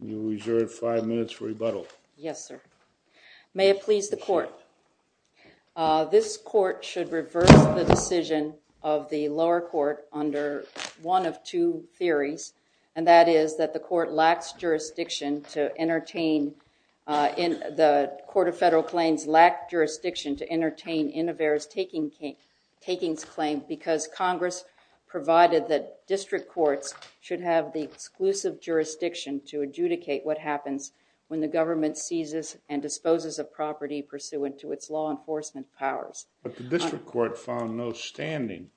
You are adjourned five minutes for rebuttal. Yes, sir. May it please the court, this court should reverse the decision of the lower court under one of two theories. And that is that the court lacks jurisdiction to entertain. The Court of Federal Claims lacked jurisdiction to entertain INNOVAIR's takings claim because Congress provided that district courts should have the exclusive jurisdiction to adjudicate what happens when the government seizes and disposes of property pursuant to its law enforcement powers. But the district court found no standing.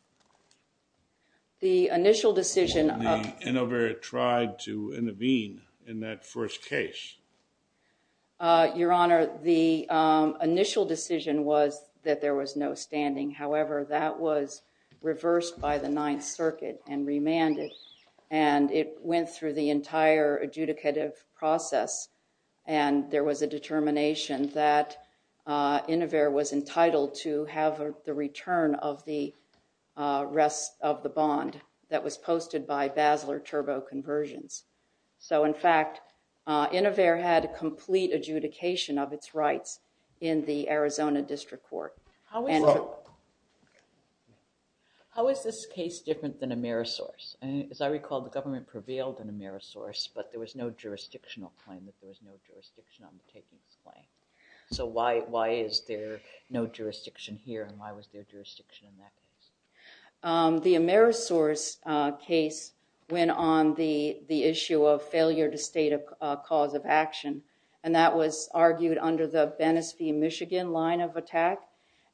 The initial decision of the INNOVAIR tried to intervene in that first case. Your Honor, the initial decision was that there was no standing. However, that was reversed by the Ninth Circuit and remanded. And it went through the entire adjudicative process. And there was a determination that INNOVAIR was entitled to have the return of the rest of the bond that was posted by Basler Turbo Conversions. So in fact, INNOVAIR had complete adjudication of its rights in the Arizona District Court. How is this case different than a Amerisource? And as I recall, the government prevailed in Amerisource. But there was no jurisdictional claim. There was no jurisdiction on the takings claim. So why is there no jurisdiction here? And why was there jurisdiction in that case? The Amerisource case went on the issue of failure to state a cause of action. And that was argued under the Venice v. Michigan line of attack.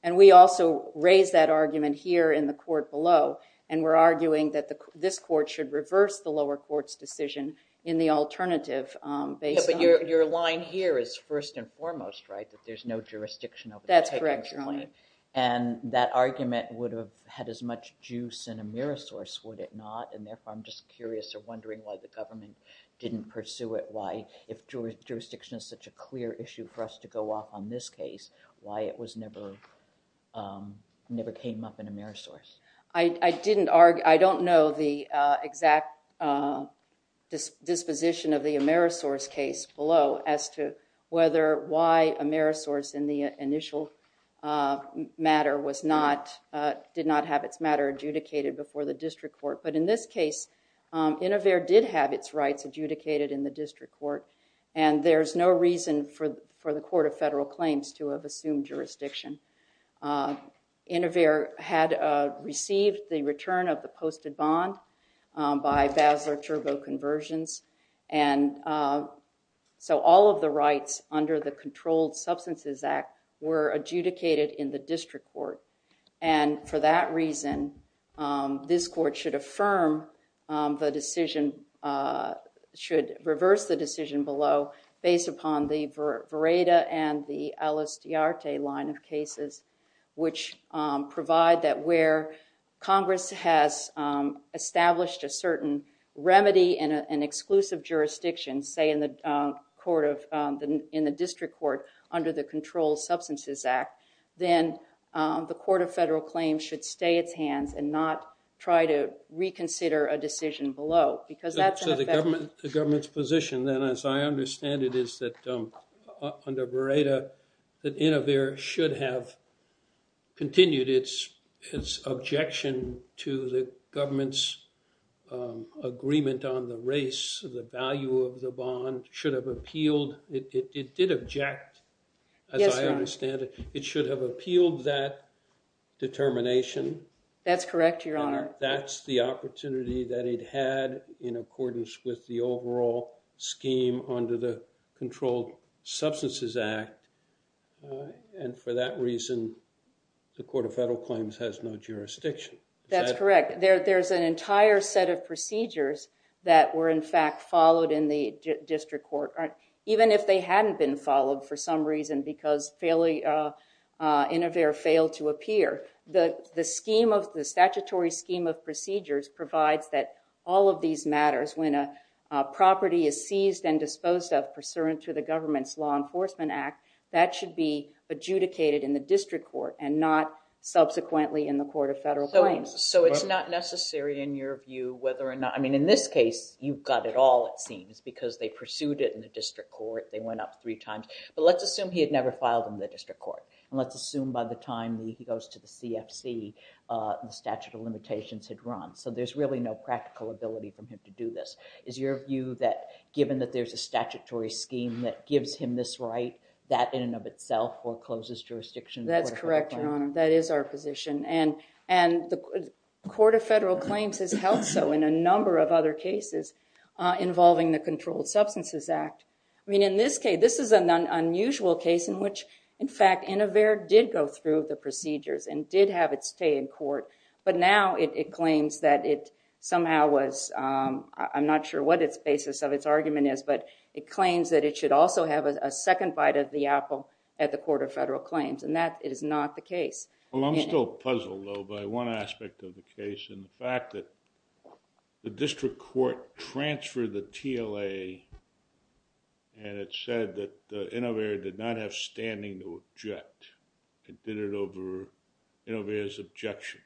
And we also raised that argument here in the court below. And we're arguing that this court should reverse the lower court's decision in the alternative based on- But your line here is first and foremost, right? That there's no jurisdiction over the takings claim. That's correct, Your Honor. And that argument would have had as much juice in Amerisource, would it not? And therefore, I'm just curious or wondering why the government didn't pursue it. Why, if jurisdiction is such a clear issue for us to go off on this case, why it never came up in Amerisource? I don't know the exact disposition of the Amerisource case below as to why Amerisource in the initial matter did not have its matter adjudicated before the district court. But in this case, Inover did have its rights adjudicated in the district court. And there's no reason for the Court of Federal Claims to have assumed jurisdiction. Inover had received the return of the posted bond by Basler-Cherbow conversions. And so all of the rights under the Controlled Substances Act were adjudicated in the district court. And for that reason, this court should affirm the decision, should reverse the decision below based upon the Vereda and the Alistiarte line of case which provide that where Congress has established a certain remedy in an exclusive jurisdiction, say in the district court under the Controlled Substances Act, then the Court of Federal Claims should stay its hands and not try to reconsider a decision below. Because that's an effect. So the government's position then, as I understand it, is that under Vereda, that Inover should have continued its objection to the government's agreement on the race, the value of the bond, should have appealed. It did object, as I understand it. It should have appealed that determination. That's correct, Your Honor. That's the opportunity that it had in accordance with the overall scheme under the Controlled Substances Act. And for that reason, the Court of Federal Claims has no jurisdiction. That's correct. There's an entire set of procedures that were, in fact, followed in the district court. Even if they hadn't been followed for some reason because Inover failed to appear, the statutory scheme of procedures provides that all of these matters, when a property is seized and disposed of pursuant to the government's Law Enforcement Act, that should be adjudicated in the district court and not subsequently in the Court of Federal Claims. So it's not necessary in your view whether or not, I mean, in this case, you've got it all, it seems, because they pursued it in the district court. They went up three times. But let's assume he had never filed in the district court. And let's assume by the time he goes to the CFC, the statute of limitations had run. So there's really no practical ability for him to do this. Is your view that, given that there's a statutory scheme that gives him this right, that in and of itself forecloses jurisdiction in the Court of Federal Claims? That's correct, Your Honor. That is our position. And the Court of Federal Claims has held so in a number of other cases involving the Controlled Substances Act. I mean, in this case, this is an unusual case in which, in fact, Inover did go through the procedures and did have it stay in court. But now it claims that it somehow was, I'm not sure what its basis of its argument is, but it claims that it should also have a second bite of the apple at the Court of Federal Claims. And that is not the case. Well, I'm still puzzled, though, by one aspect of the case, and the fact that the district court transferred the TLA and it said that Inover did not have standing to object. It did it over Inover's objection.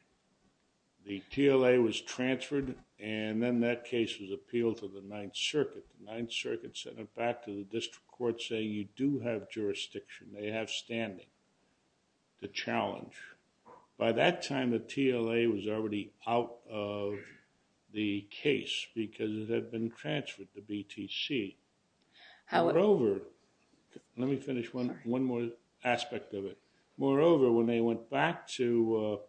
The TLA was transferred, and then that case was appealed to the Ninth Circuit. The Ninth Circuit sent it back to the district court saying, you do have jurisdiction. They have standing to challenge. By that time, the TLA was already out of the case because it had been transferred to BTC. However, let me finish one more aspect of it. Moreover, when they went back to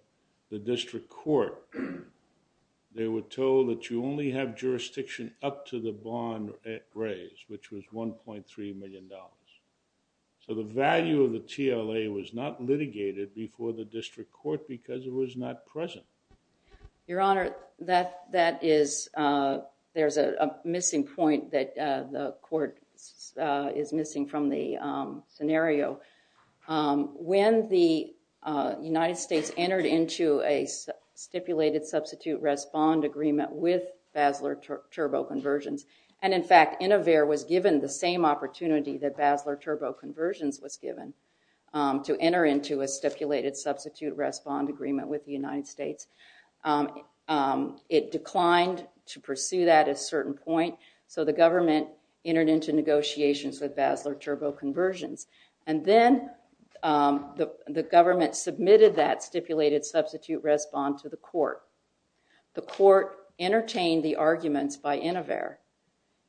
the district court, they were told that you only have jurisdiction up to the bond raise, which was $1.3 million. So the value of the TLA was not litigated before the district court because it was not present. Your Honor, there's a missing point that the court is missing from the scenario. When the United States entered into a stipulated substitute rest bond agreement with Basler Turbo Conversions, and in fact, Inover was given the same opportunity that Basler Turbo Conversions was given to enter into a stipulated substitute rest bond agreement with the United States, it declined to pursue that at a certain point. So the government entered into negotiations with Basler Turbo Conversions. And then the government submitted that stipulated substitute rest bond to the court. The court entertained the arguments by Inover.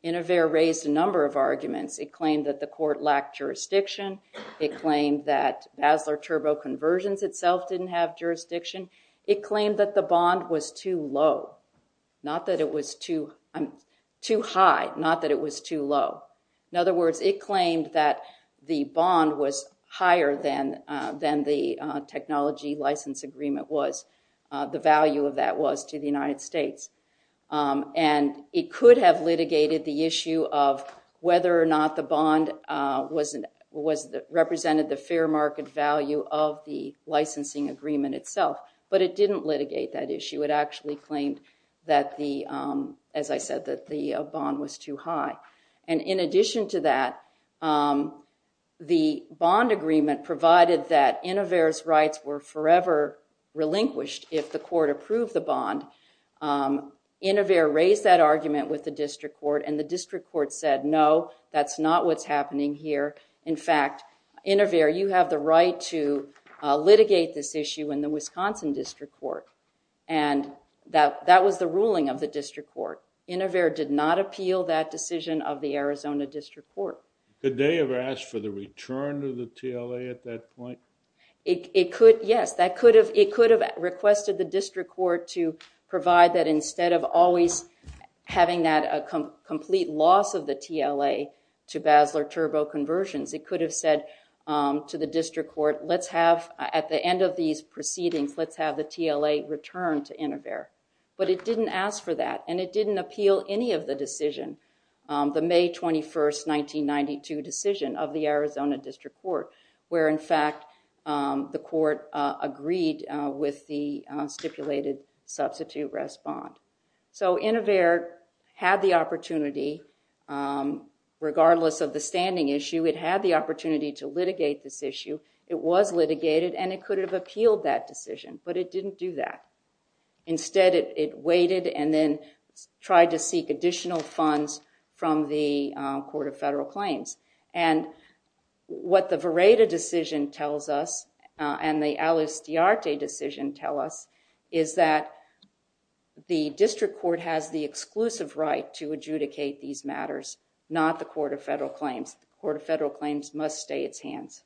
Inover raised a number of arguments. It claimed that the court lacked jurisdiction. It claimed that Basler Turbo Conversions itself didn't have jurisdiction. It claimed that the bond was too low, not that it was too high, not that it was too low. In other words, it claimed that the bond was higher than the technology license agreement was, the value of that was to the United States. And it could have litigated the issue of whether or not the bond represented the fair market value of the licensing agreement itself. But it didn't litigate that issue. It actually claimed that the, as I said, that the bond was too high. And in addition to that, the bond agreement provided that Inover's rights were forever relinquished if the court approved the bond. Inover raised that argument with the district court, and the district court said, no, that's not what's happening here. In fact, Inover, you have the right to litigate this issue in the Wisconsin district court. And that was the ruling of the district court. Inover did not appeal that decision of the Arizona district court. Could they have asked for the return to the TLA at that point? It could, yes, that could have, it could have requested the district court to provide that instead of always having that complete loss of the TLA to Basler Turbo Conversions, it could have said to the district court, let's have, at the end of these proceedings, let's have the TLA return to Inover. But it didn't ask for that. And it didn't appeal any of the decision, the May 21st, 1992 decision of the Arizona district court, where in fact, the court agreed with the stipulated substitute rest bond. So Inover had the opportunity, regardless of the standing issue, it had the opportunity to litigate this issue, it was litigated, and it could have appealed that decision, but it didn't do that. Instead, it waited and then tried to seek additional funds from the Court of Federal Claims. And what the Vereda decision tells us, and the Alistiarte decision tell us, is that the district court has the exclusive right to adjudicate these matters, not the Court of Federal Claims. Court of Federal Claims must stay its hands.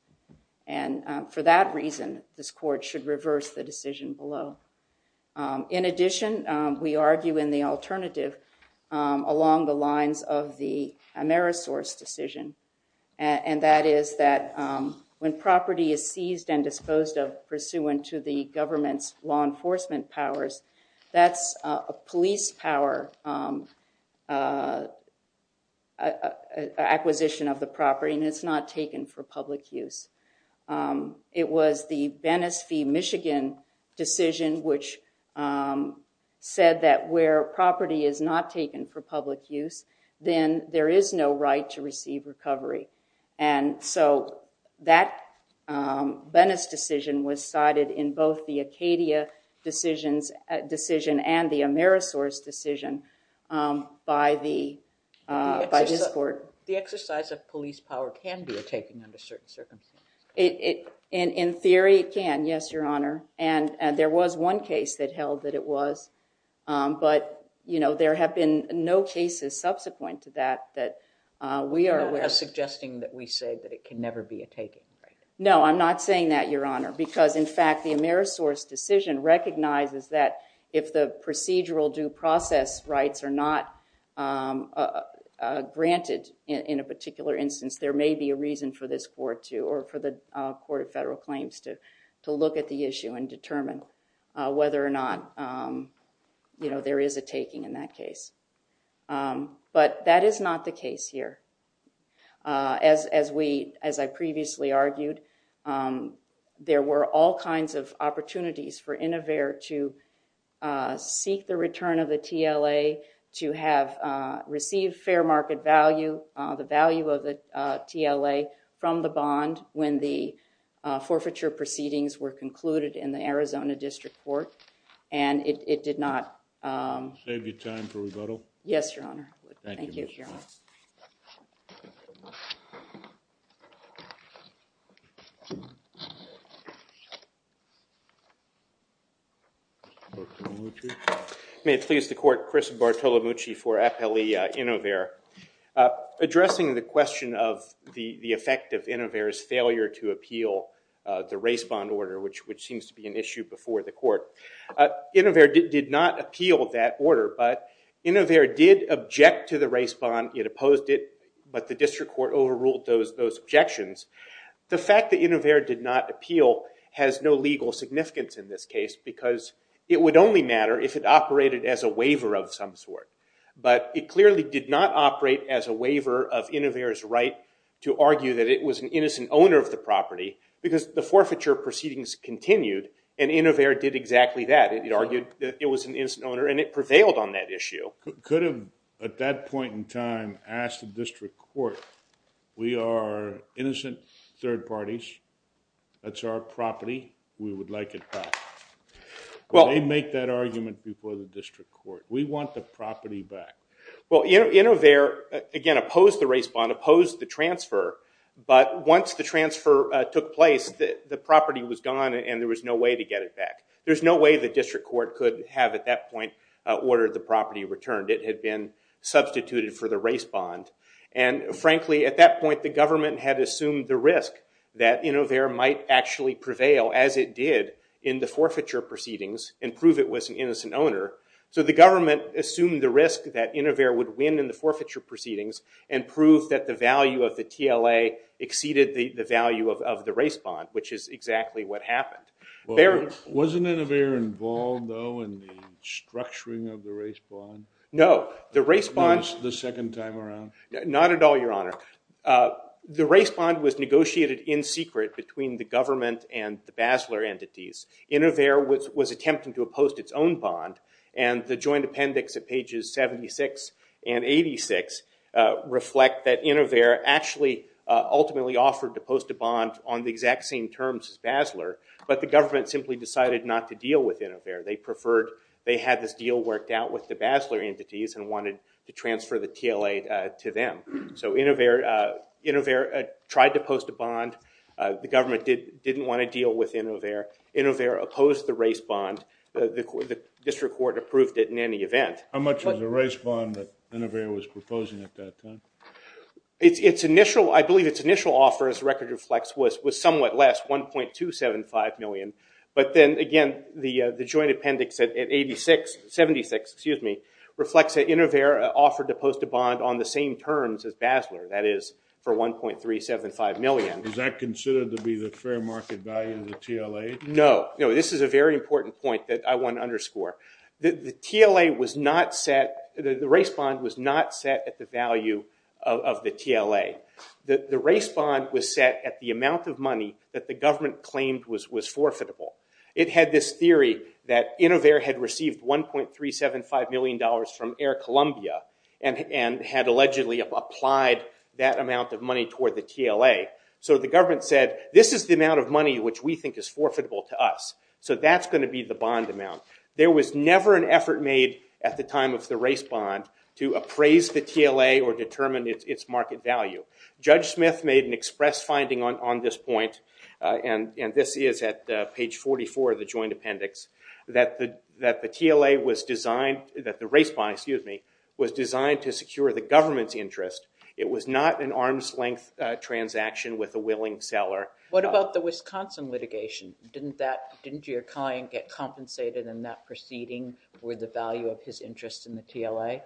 And for that reason, this court should reverse the decision below. In addition, we argue in the alternative along the lines of the Amerisource decision. And that is that when property is seized and disposed of pursuant to the government's law enforcement powers, that's a police power acquisition of the property, and it's not taken for public use. It was the Venice v. Michigan decision, which said that where property is not taken for public use, then there is no right to receive recovery. And so that Venice decision was cited in both the Acadia decision and the Amerisource decision by this court. The exercise of police power can be a taking under certain circumstances. In theory, it can, yes, Your Honor. And there was one case that held that it was, but there have been no cases subsequent to that that we are aware of. You're suggesting that we say that it can never be a taking, right? No, I'm not saying that, Your Honor, because in fact, the Amerisource decision recognizes that if the procedural due process rights are not granted in a particular instance, there may be a reason for this court to, or for the Court of Federal Claims to look at the issue and determine whether or not there is a taking in that case. But that is not the case here. As I previously argued, there were all kinds of opportunities for Inover to seek the return of the TLA, to have received fair market value, the value of the TLA from the bond when the forfeiture proceedings were concluded in the Arizona District Court, and it did not- Save you time for rebuttal? Yes, Your Honor. Thank you, Your Honor. May it please the court, Chris Bartolomucci for Appellee Inover. Addressing the question of the effect of Inover's failure to appeal the race bond order, which seems to be an issue before the court, Inover did not appeal that order, but Inover did object to the race bond. It opposed it, but the district court overruled those objections. The fact that Inover did not appeal has no legal significance in this case, because it would only matter if it operated as a waiver of some sort, but it clearly did not operate as a waiver of Inover's right to argue that it was an innocent owner of the property, because the forfeiture proceedings continued, and Inover did exactly that. It argued that it was an innocent owner, and it prevailed on that issue. Could have, at that point in time, asked the district court, we are innocent third parties, that's our property, we would like it back. They make that argument before the district court. We want the property back. Well, Inover, again, opposed the race bond, opposed the transfer, but once the transfer took place, the property was gone, and there was no way to get it back. There's no way the district court could have, at that point, ordered the property returned. It had been substituted for the race bond, and frankly, at that point, the government had assumed the risk that Inover might actually prevail, as it did, in the forfeiture proceedings, and prove it was an innocent owner, so the government assumed the risk that Inover would win in the forfeiture proceedings, and proved that the value of the TLA exceeded the value of the race bond, which is exactly what happened. Wasn't Inover involved, though, in the structuring of the race bond? No, the race bond. The second time around? Not at all, your honor. The race bond was negotiated in secret between the government and the Basler entities. Inover was attempting to oppose its own bond, and the joint appendix at pages 76 and 86 reflect that Inover actually ultimately offered to post a bond on the exact same terms as Basler, but the government simply decided not to deal with Inover. They preferred, they had this deal worked out with the Basler entities, and wanted to transfer the TLA to them. So Inover tried to post a bond. The government didn't want to deal with Inover. Inover opposed the race bond. The district court approved it in any event. How much was the race bond that Inover was proposing at that time? I believe its initial offer, as the record reflects, was somewhat less, 1.275 million, but then again, the joint appendix at 86, 76, excuse me, reflects that Inover offered to post a bond on the same terms as Basler, that is, for 1.375 million. Is that considered to be the fair market value of the TLA? No, no, this is a very important point that I want to underscore. The TLA was not set, the race bond was not set at the value of the TLA. The race bond was set at the amount of money that the government claimed was forfeitable. It had this theory that Inover had received 1.375 million dollars from Air Columbia, and had allegedly applied that amount of money toward the TLA. The government said, this is the amount of money which we think is forfeitable to us, so that's gonna be the bond amount. There was never an effort made at the time of the race bond to appraise the TLA or determine its market value. Judge Smith made an express finding on this point, and this is at page 44 of the joint appendix, that the TLA was designed, that the race bond, excuse me, was designed to secure the government's interest. It was not an arm's length transaction with a willing seller. What about the Wisconsin litigation? Didn't your client get compensated in that proceeding with the value of his interest in the TLA?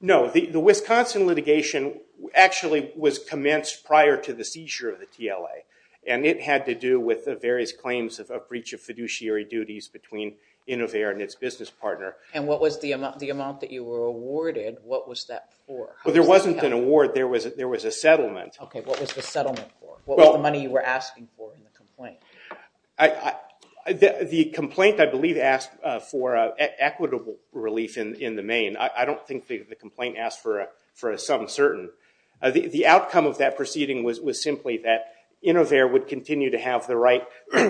No, the Wisconsin litigation actually was commenced prior to the seizure of the TLA, and it had to do with the various claims of a breach of fiduciary duties between Inover and its business partner. And what was the amount that you were awarded, what was that for? Well, there wasn't an award, there was a settlement. Okay, what was the settlement for? What was the money you were asking for in the complaint? The complaint, I believe, asked for equitable relief in the main. I don't think the complaint asked for a some certain. The outcome of that proceeding was simply that Inover would continue to have the right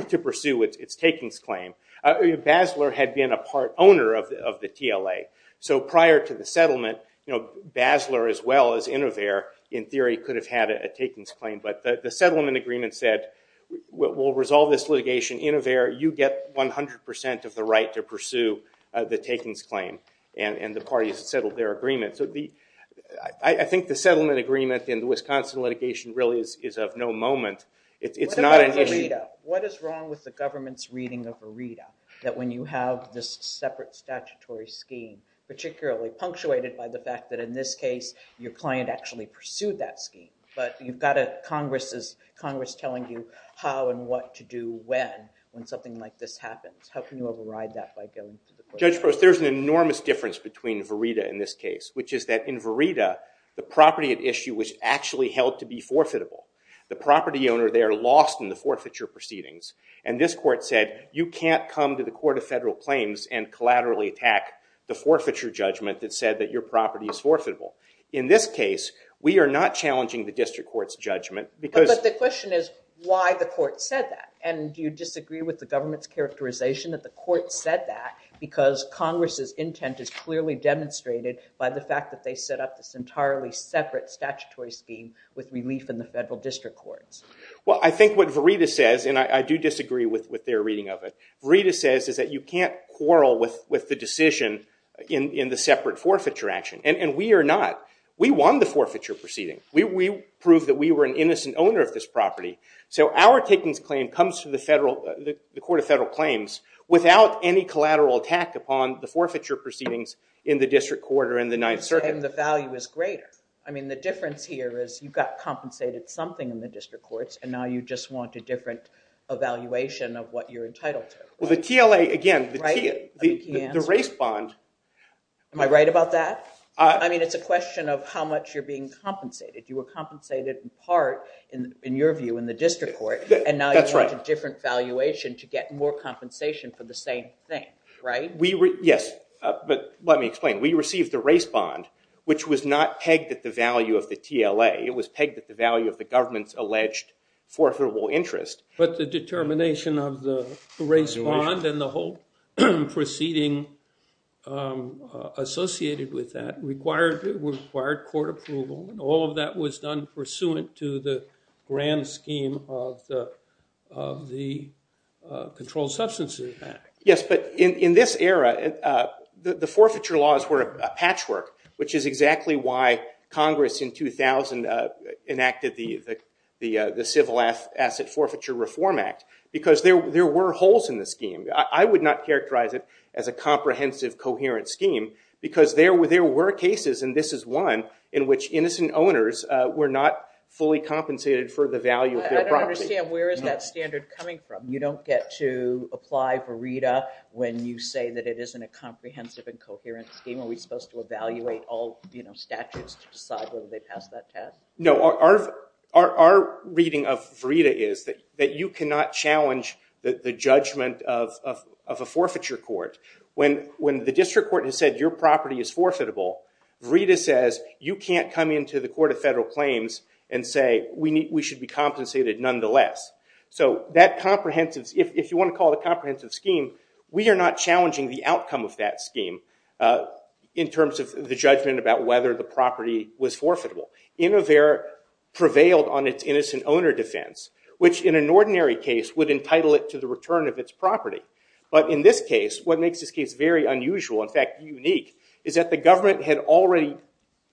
to pursue its takings claim. Basler had been a part owner of the TLA, so prior to the settlement, Basler as well as Inover, in theory, could have had a takings claim. But the settlement agreement said, we'll resolve this litigation. Inover, you get 100% of the right to pursue the takings claim, and the parties settled their agreement. So I think the settlement agreement in the Wisconsin litigation really is of no moment. It's not an issue. What is wrong with the government's reading of a RETA, that when you have this separate statutory scheme, particularly punctuated by the fact that in this case, your client actually pursued that scheme, but you've got a Congress telling you how and what to do when, when something like this happens. How can you override that by going to the court? Judge Post, there's an enormous difference between VERITA and this case, which is that in VERITA, the property at issue was actually held to be forfeitable. The property owner there lost in the forfeiture proceedings, and this court said, you can't come to the Court of Federal Claims and collaterally attack the forfeiture judgment that said that your property is forfeitable. In this case, we are not challenging the district court's judgment because- But the question is, why the court said that? And do you disagree with the government's characterization that the court said that, because Congress's intent is clearly demonstrated by the fact that they set up this entirely separate statutory scheme with relief in the federal district courts? Well, I think what VERITA says, and I do disagree with their reading of it, VERITA says is that you can't quarrel with the decision in the separate forfeiture action, and we are not. We won the forfeiture proceeding. We proved that we were an innocent owner of this property. So our takings claim comes to the Court of Federal Claims without any collateral attack upon the forfeiture proceedings in the district court or in the Ninth Circuit. And the value is greater. I mean, the difference here is you got compensated something in the district courts, and now you just want a different evaluation of what you're entitled to. Well, the TLA, again, the race bond. Am I right about that? I mean, it's a question of how much you're being compensated. You were compensated in part, in your view, in the district court, and now you want a different valuation to get more compensation for the same thing, right? Yes, but let me explain. We received the race bond, which was not pegged at the value of the TLA. It was pegged at the value of the government's alleged forfeitable interest. But the determination of the race bond and the whole proceeding associated with that required court approval. All of that was done pursuant to the grand scheme of the Controlled Substances Act. Yes, but in this era, the forfeiture laws were a patchwork, which is exactly why Congress, in 2000, enacted the Civil Asset Forfeiture Reform Act, because there were holes in the scheme. I would not characterize it as a comprehensive, coherent scheme, because there were cases, and this is one, in which innocent owners were not fully compensated for the value of their property. I don't understand, where is that standard coming from? You don't get to apply for RETA when you say that it isn't a comprehensive and coherent scheme. Are we supposed to evaluate all statutes to decide whether they pass that test? No, our reading of RETA is that you cannot challenge the judgment of a forfeiture court. When the district court has said your property is forfeitable, RETA says you can't come into the Court of Federal Claims and say we should be compensated nonetheless. So that comprehensive, if you want to call it a comprehensive scheme, we are not challenging the outcome of that scheme in terms of the judgment about whether the property was forfeitable. Innovera prevailed on its innocent owner defense, which in an ordinary case would entitle it to the return of its property. But in this case, what makes this case very unusual, in fact, unique, is that the government had already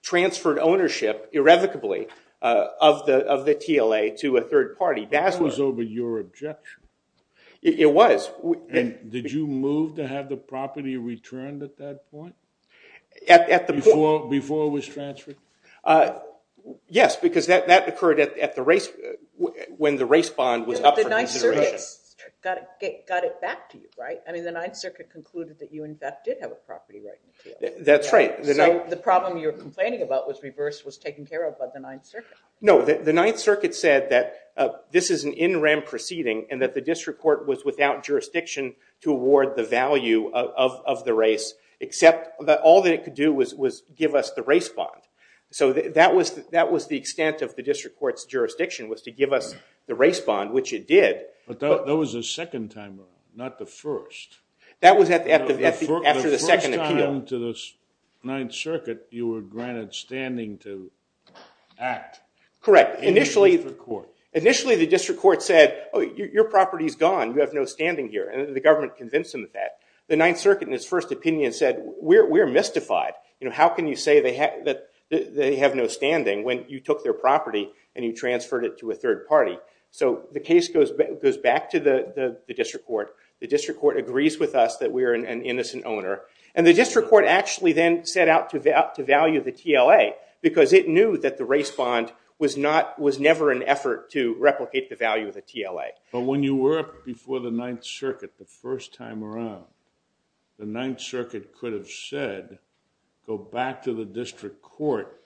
transferred ownership, irrevocably, of the TLA to a third party. That was over your objection. It was. Did you move to have the property returned at that point? Before it was transferred? Yes, because that occurred when the race bond was up for consideration. But the Ninth Circuit got it back to you, right? I mean, the Ninth Circuit concluded that you in fact did have a property right in the TLA. That's right. So the problem you're complaining about was reversed, was taken care of by the Ninth Circuit. No, the Ninth Circuit said that this is an in rem proceeding and that the district court was without jurisdiction to award the value of the race, except that all that it could do was give us the race bond. So that was the extent of the district court's jurisdiction, was to give us the race bond, which it did. But that was the second time around, not the first. That was after the second appeal. The first time to the Ninth Circuit you were granted standing to act. Correct, initially the district court said, oh, your property's gone, you have no standing here. And the government convinced them of that. The Ninth Circuit in its first opinion said, we're mystified. How can you say that they have no standing when you took their property and you transferred it to a third party? So the case goes back to the district court. The district court agrees with us that we are an innocent owner. And the district court actually then set out to value the TLA, because it knew that the race bond was never an effort to replicate the value of the TLA. But when you were up before the Ninth Circuit the first time around, the Ninth Circuit could have said, go back to the district court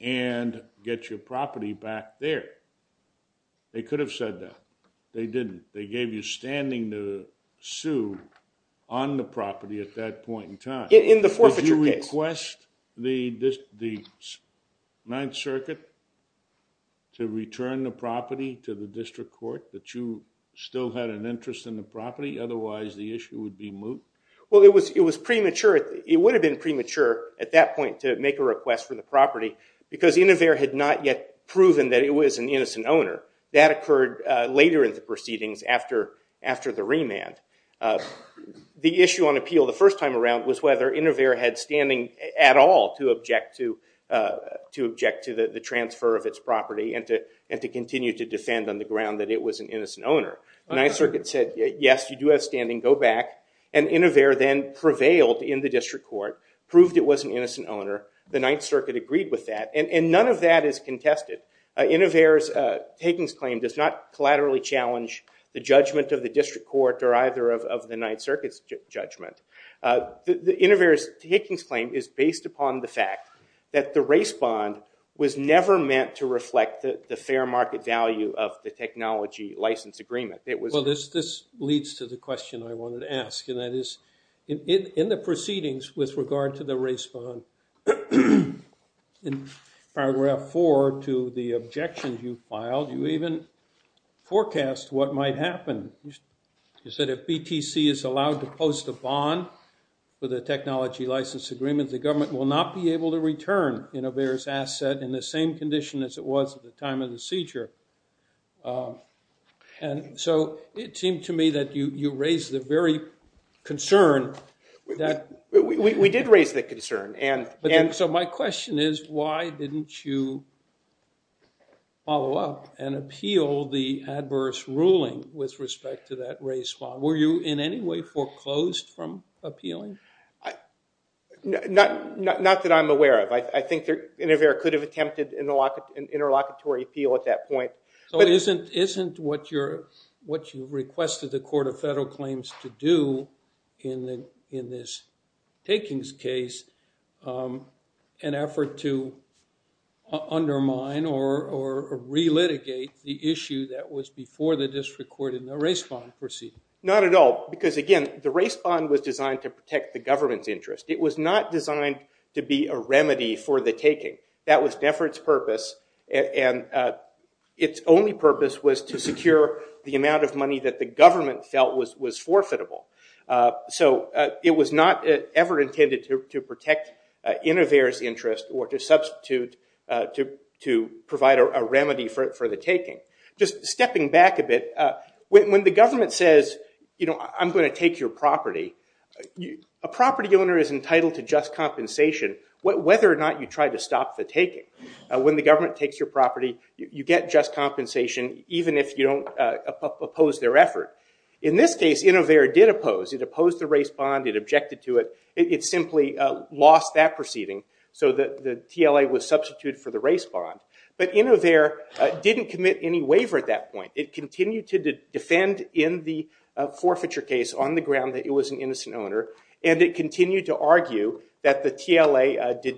and get your property back there. They could have said that. They didn't. They gave you standing to sue on the property at that point in time. In the forfeiture case. Did you request the Ninth Circuit to return the property to the district court, that you still had an interest in the property? Otherwise, the issue would be moot? Well, it was premature. It would have been premature at that point to make a request for the property, because Inover had not yet proven that it was an innocent owner. That occurred later in the proceedings after the remand. The issue on appeal the first time around was whether Inover had standing at all to object to the transfer of its property and to continue to defend on the ground that it was an innocent owner. The Ninth Circuit said, yes, you do have standing. Go back. And Inover then prevailed in the district court, proved it was an innocent owner. The Ninth Circuit agreed with that. And none of that is contested. Inover's takings claim does not collaterally challenge the judgment of the district court or either of the Ninth Circuit's judgment. Inover's takings claim is based upon the fact that the race bond was never meant to reflect the fair market value of the technology license agreement. Well, this leads to the question I wanted to ask. And that is, in the proceedings with regard to the race bond, in paragraph 4 to the objections you filed, you even forecast what might happen. You said, if BTC is allowed to post a bond for the technology license agreement, the government will not be able to return Inover's asset in the same condition as it was at the time of the seizure. And so it seemed to me that you raised the very concern that We did raise that concern. And so my question is, why didn't you follow up and appeal the adverse ruling with respect to that race bond? Were you in any way foreclosed from appealing? Not that I'm aware of. I think Inover could have attempted an interlocutory appeal at that point. So isn't what you requested the Court of Federal Claims to do in this takings case an effort to undermine or re-litigate the issue that was before the district court in the race bond proceeding? Not at all. Because again, the race bond was designed to protect the government's interest. It was not designed to be a remedy for the taking. That was never its purpose. And its only purpose was to secure the amount of money that the government felt was forfeitable. So it was not ever intended to protect Inover's interest or to substitute to provide a remedy for the taking. Just stepping back a bit, when the government says, I'm going to take your property, a property owner is entitled to just compensation whether or not you try to stop the taking. When the government takes your property, you get just compensation even if you don't oppose their effort. In this case, Inover did oppose. It opposed the race bond. It objected to it. It simply lost that proceeding. So the TLA was substituted for the race bond. But Inover didn't commit any waiver at that point. It continued to defend in the forfeiture case on the ground that it was an innocent owner. And it continued to argue that the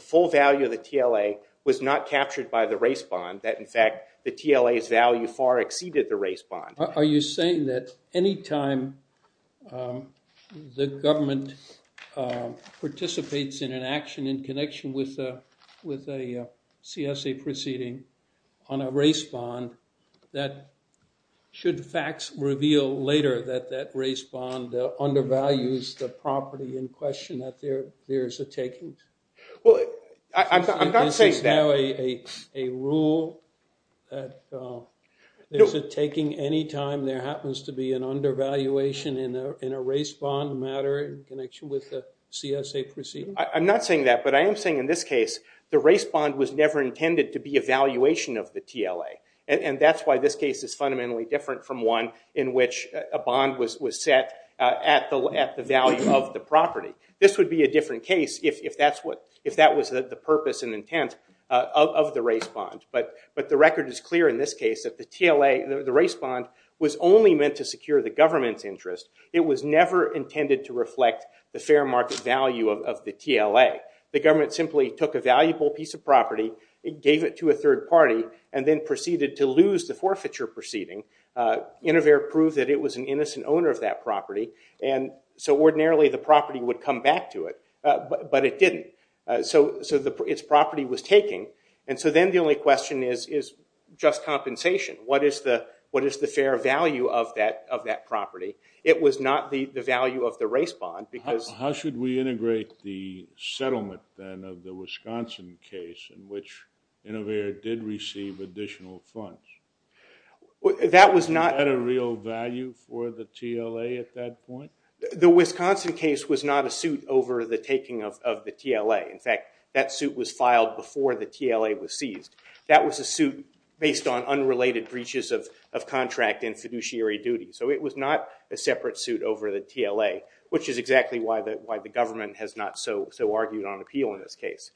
full value of the TLA was not captured by the race bond, that in fact the TLA's value far exceeded the race bond. Are you saying that any time the government participates in an action in connection with a CSA proceeding on a race bond, that should facts reveal later that that race bond undervalues the property in question, that there is a taking? Well, I'm not saying that. Is this now a rule that there's a taking any time there happens to be an undervaluation in a race bond matter in connection with the CSA proceeding? I'm not saying that. But I am saying in this case, the race bond was never intended to be a valuation of the TLA. And that's why this case is fundamentally different from one in which a bond was set at the value of the property. This would be a different case if that was the purpose and intent of the race bond. But the record is clear in this case that the race bond was only meant to secure the government's interest. It was never intended to reflect the fair market value of the TLA. The government simply took a valuable piece of property, gave it to a third party, and then proceeded to lose the forfeiture proceeding. Innovaire proved that it was an innocent owner of that property. And so ordinarily, the property would come back to it. But it didn't. So its property was taking. And so then the only question is just compensation. What is the fair value of that property? It was not the value of the race bond because How should we integrate the settlement, then, of the Wisconsin case in which Innovaire did receive additional funds? That was not a real value for the TLA at that point? The Wisconsin case was not a suit over the taking of the TLA. In fact, that suit was filed before the TLA was seized. That was a suit based on unrelated breaches of contract and fiduciary duty. So it was not a separate suit over the TLA, which is exactly why the government has not so argued on appeal in this case.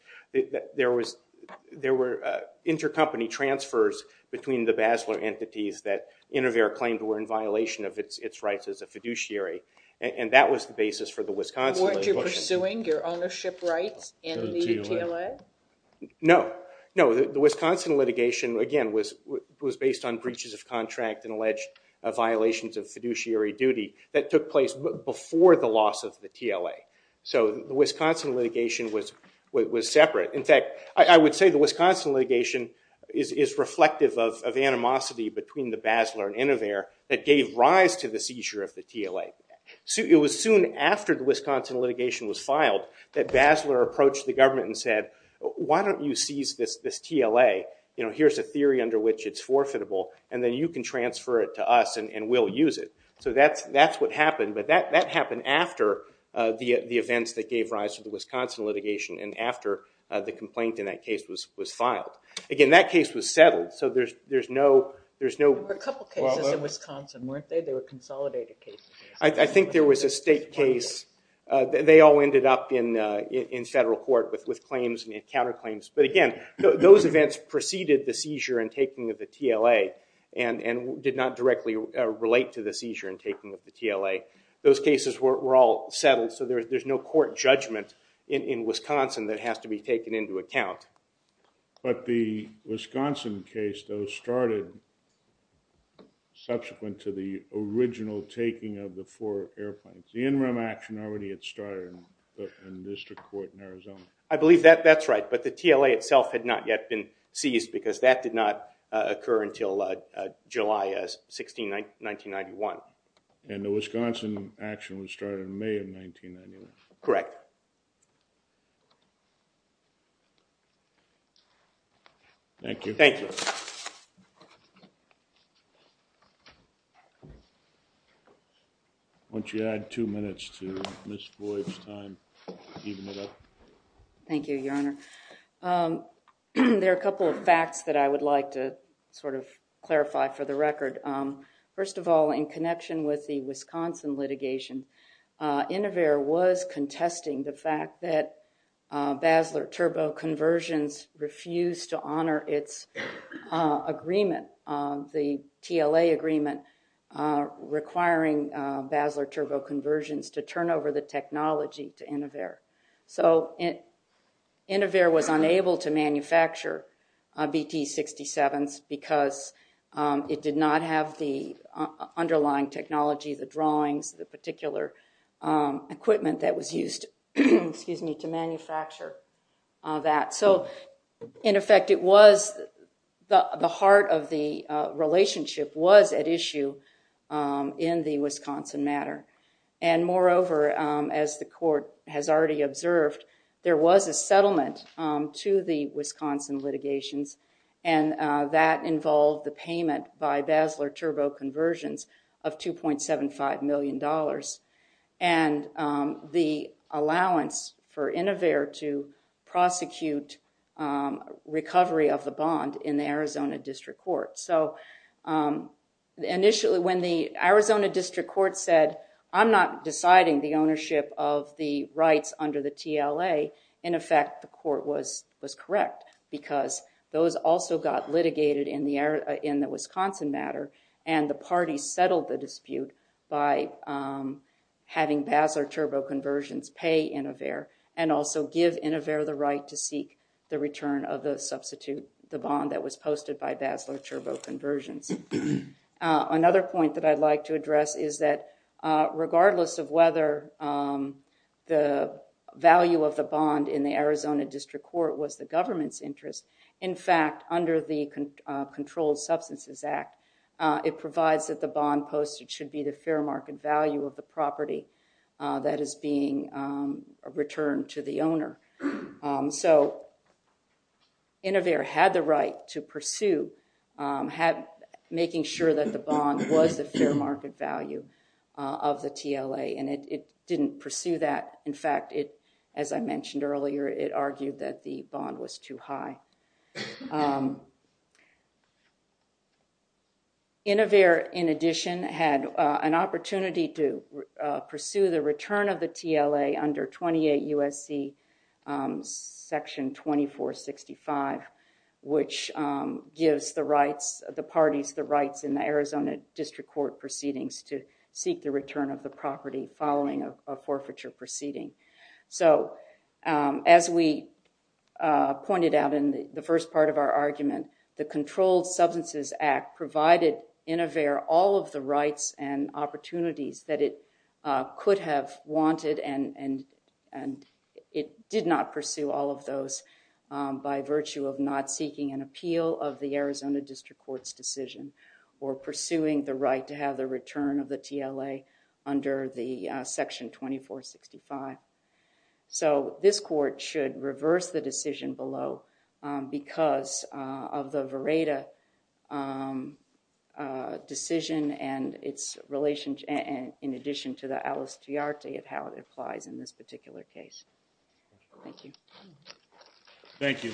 There were intercompany transfers between the Basler entities that Innovaire claimed were in violation of its rights as a fiduciary. And that was the basis for the Wisconsin. Weren't you pursuing your ownership rights in the TLA? No. No, the Wisconsin litigation, again, was based on breaches of contract and alleged violations of fiduciary duty that took place before the loss of the TLA. So the Wisconsin litigation was separate. In fact, I would say the Wisconsin litigation is reflective of animosity between the Basler and Innovaire that gave rise to the seizure of the TLA. It was soon after the Wisconsin litigation was filed that Basler approached the government and said, why don't you seize this TLA? Here's a theory under which it's forfeitable. And then you can transfer it to us, and we'll use it. So that's what happened. But that happened after the events that gave rise to the Wisconsin litigation and after the complaint in that case was filed. Again, that case was settled, so there's no follow-up. There were a couple cases in Wisconsin, weren't there? They were consolidated cases. I think there was a state case. They all ended up in federal court with claims and counterclaims. But again, those events preceded the seizure and taking of the TLA and did not directly relate to the seizure and taking of the TLA. Those cases were all settled, so there's no court judgment in Wisconsin that has to be taken into account. But the Wisconsin case, though, started subsequent to the original taking of the four airplanes. The in-room action already had started in district court in Arizona. I believe that's right. But the TLA itself had not yet been seized, because that did not occur until July 16, 1991. And the Wisconsin action was started in May of 1991. Correct. Thank you. Thank you. Why don't you add two minutes to Ms. Boyd's time to even it up? Thank you, Your Honor. There are a couple of facts that I would like to sort of clarify for the record. First of all, in connection with the Wisconsin litigation, Inover was contesting the fact that Basler Turbo Conversions refused to honor its agreement, the TLA agreement requiring Basler Turbo Conversions to turn over the technology to Inover. So Inover was unable to manufacture BT-67s, because it did not have the underlying technology, the drawings, the particular equipment that was used to manufacture that. So in effect, the heart of the relationship was at issue in the Wisconsin matter. And moreover, as the court has already observed, there was a settlement to the Wisconsin litigations. And that involved the payment by Basler Turbo Conversions of $2.75 million, and the allowance for Inover to prosecute recovery of the bond in the Arizona District Court. So initially, when the Arizona District Court said, I'm not deciding the ownership of the rights under the TLA, in effect, the court was correct, because those also got litigated in the Wisconsin matter. And the party settled the dispute by having Basler Turbo Conversions pay Inover, and also give Inover the right to seek the return of the substitute, the bond that was posted by Basler Turbo Conversions. Another point that I'd like to address is that regardless of whether the value of the bond in the Arizona District Court was the government's interest, in fact, under the Controlled Substances Act, it provides that the bond posted should be the fair market value of the property that is being returned to the owner. So Inover had the right to pursue making sure that the bond was the fair market value of the TLA, and it didn't pursue that. In fact, as I mentioned earlier, it argued that the bond was too high. Inover, in addition, had an opportunity to pursue the return of the TLA under 28 U.S.C. Section 2465, which gives the parties the rights in the Arizona District Court proceedings to seek the return of the property following a forfeiture proceeding. So as we pointed out in the first part of our argument, the Controlled Substances Act provided Inover all of the rights and opportunities that it could have wanted, and it did not pursue all of those by virtue of not seeking an appeal of the Arizona District Court's decision or pursuing the right to have the return of the TLA under the Section 2465. So this court should reverse the decision below because of the Vereda decision and in addition to the Alistiarity of how it applies in this particular case. Thank you. Thank you.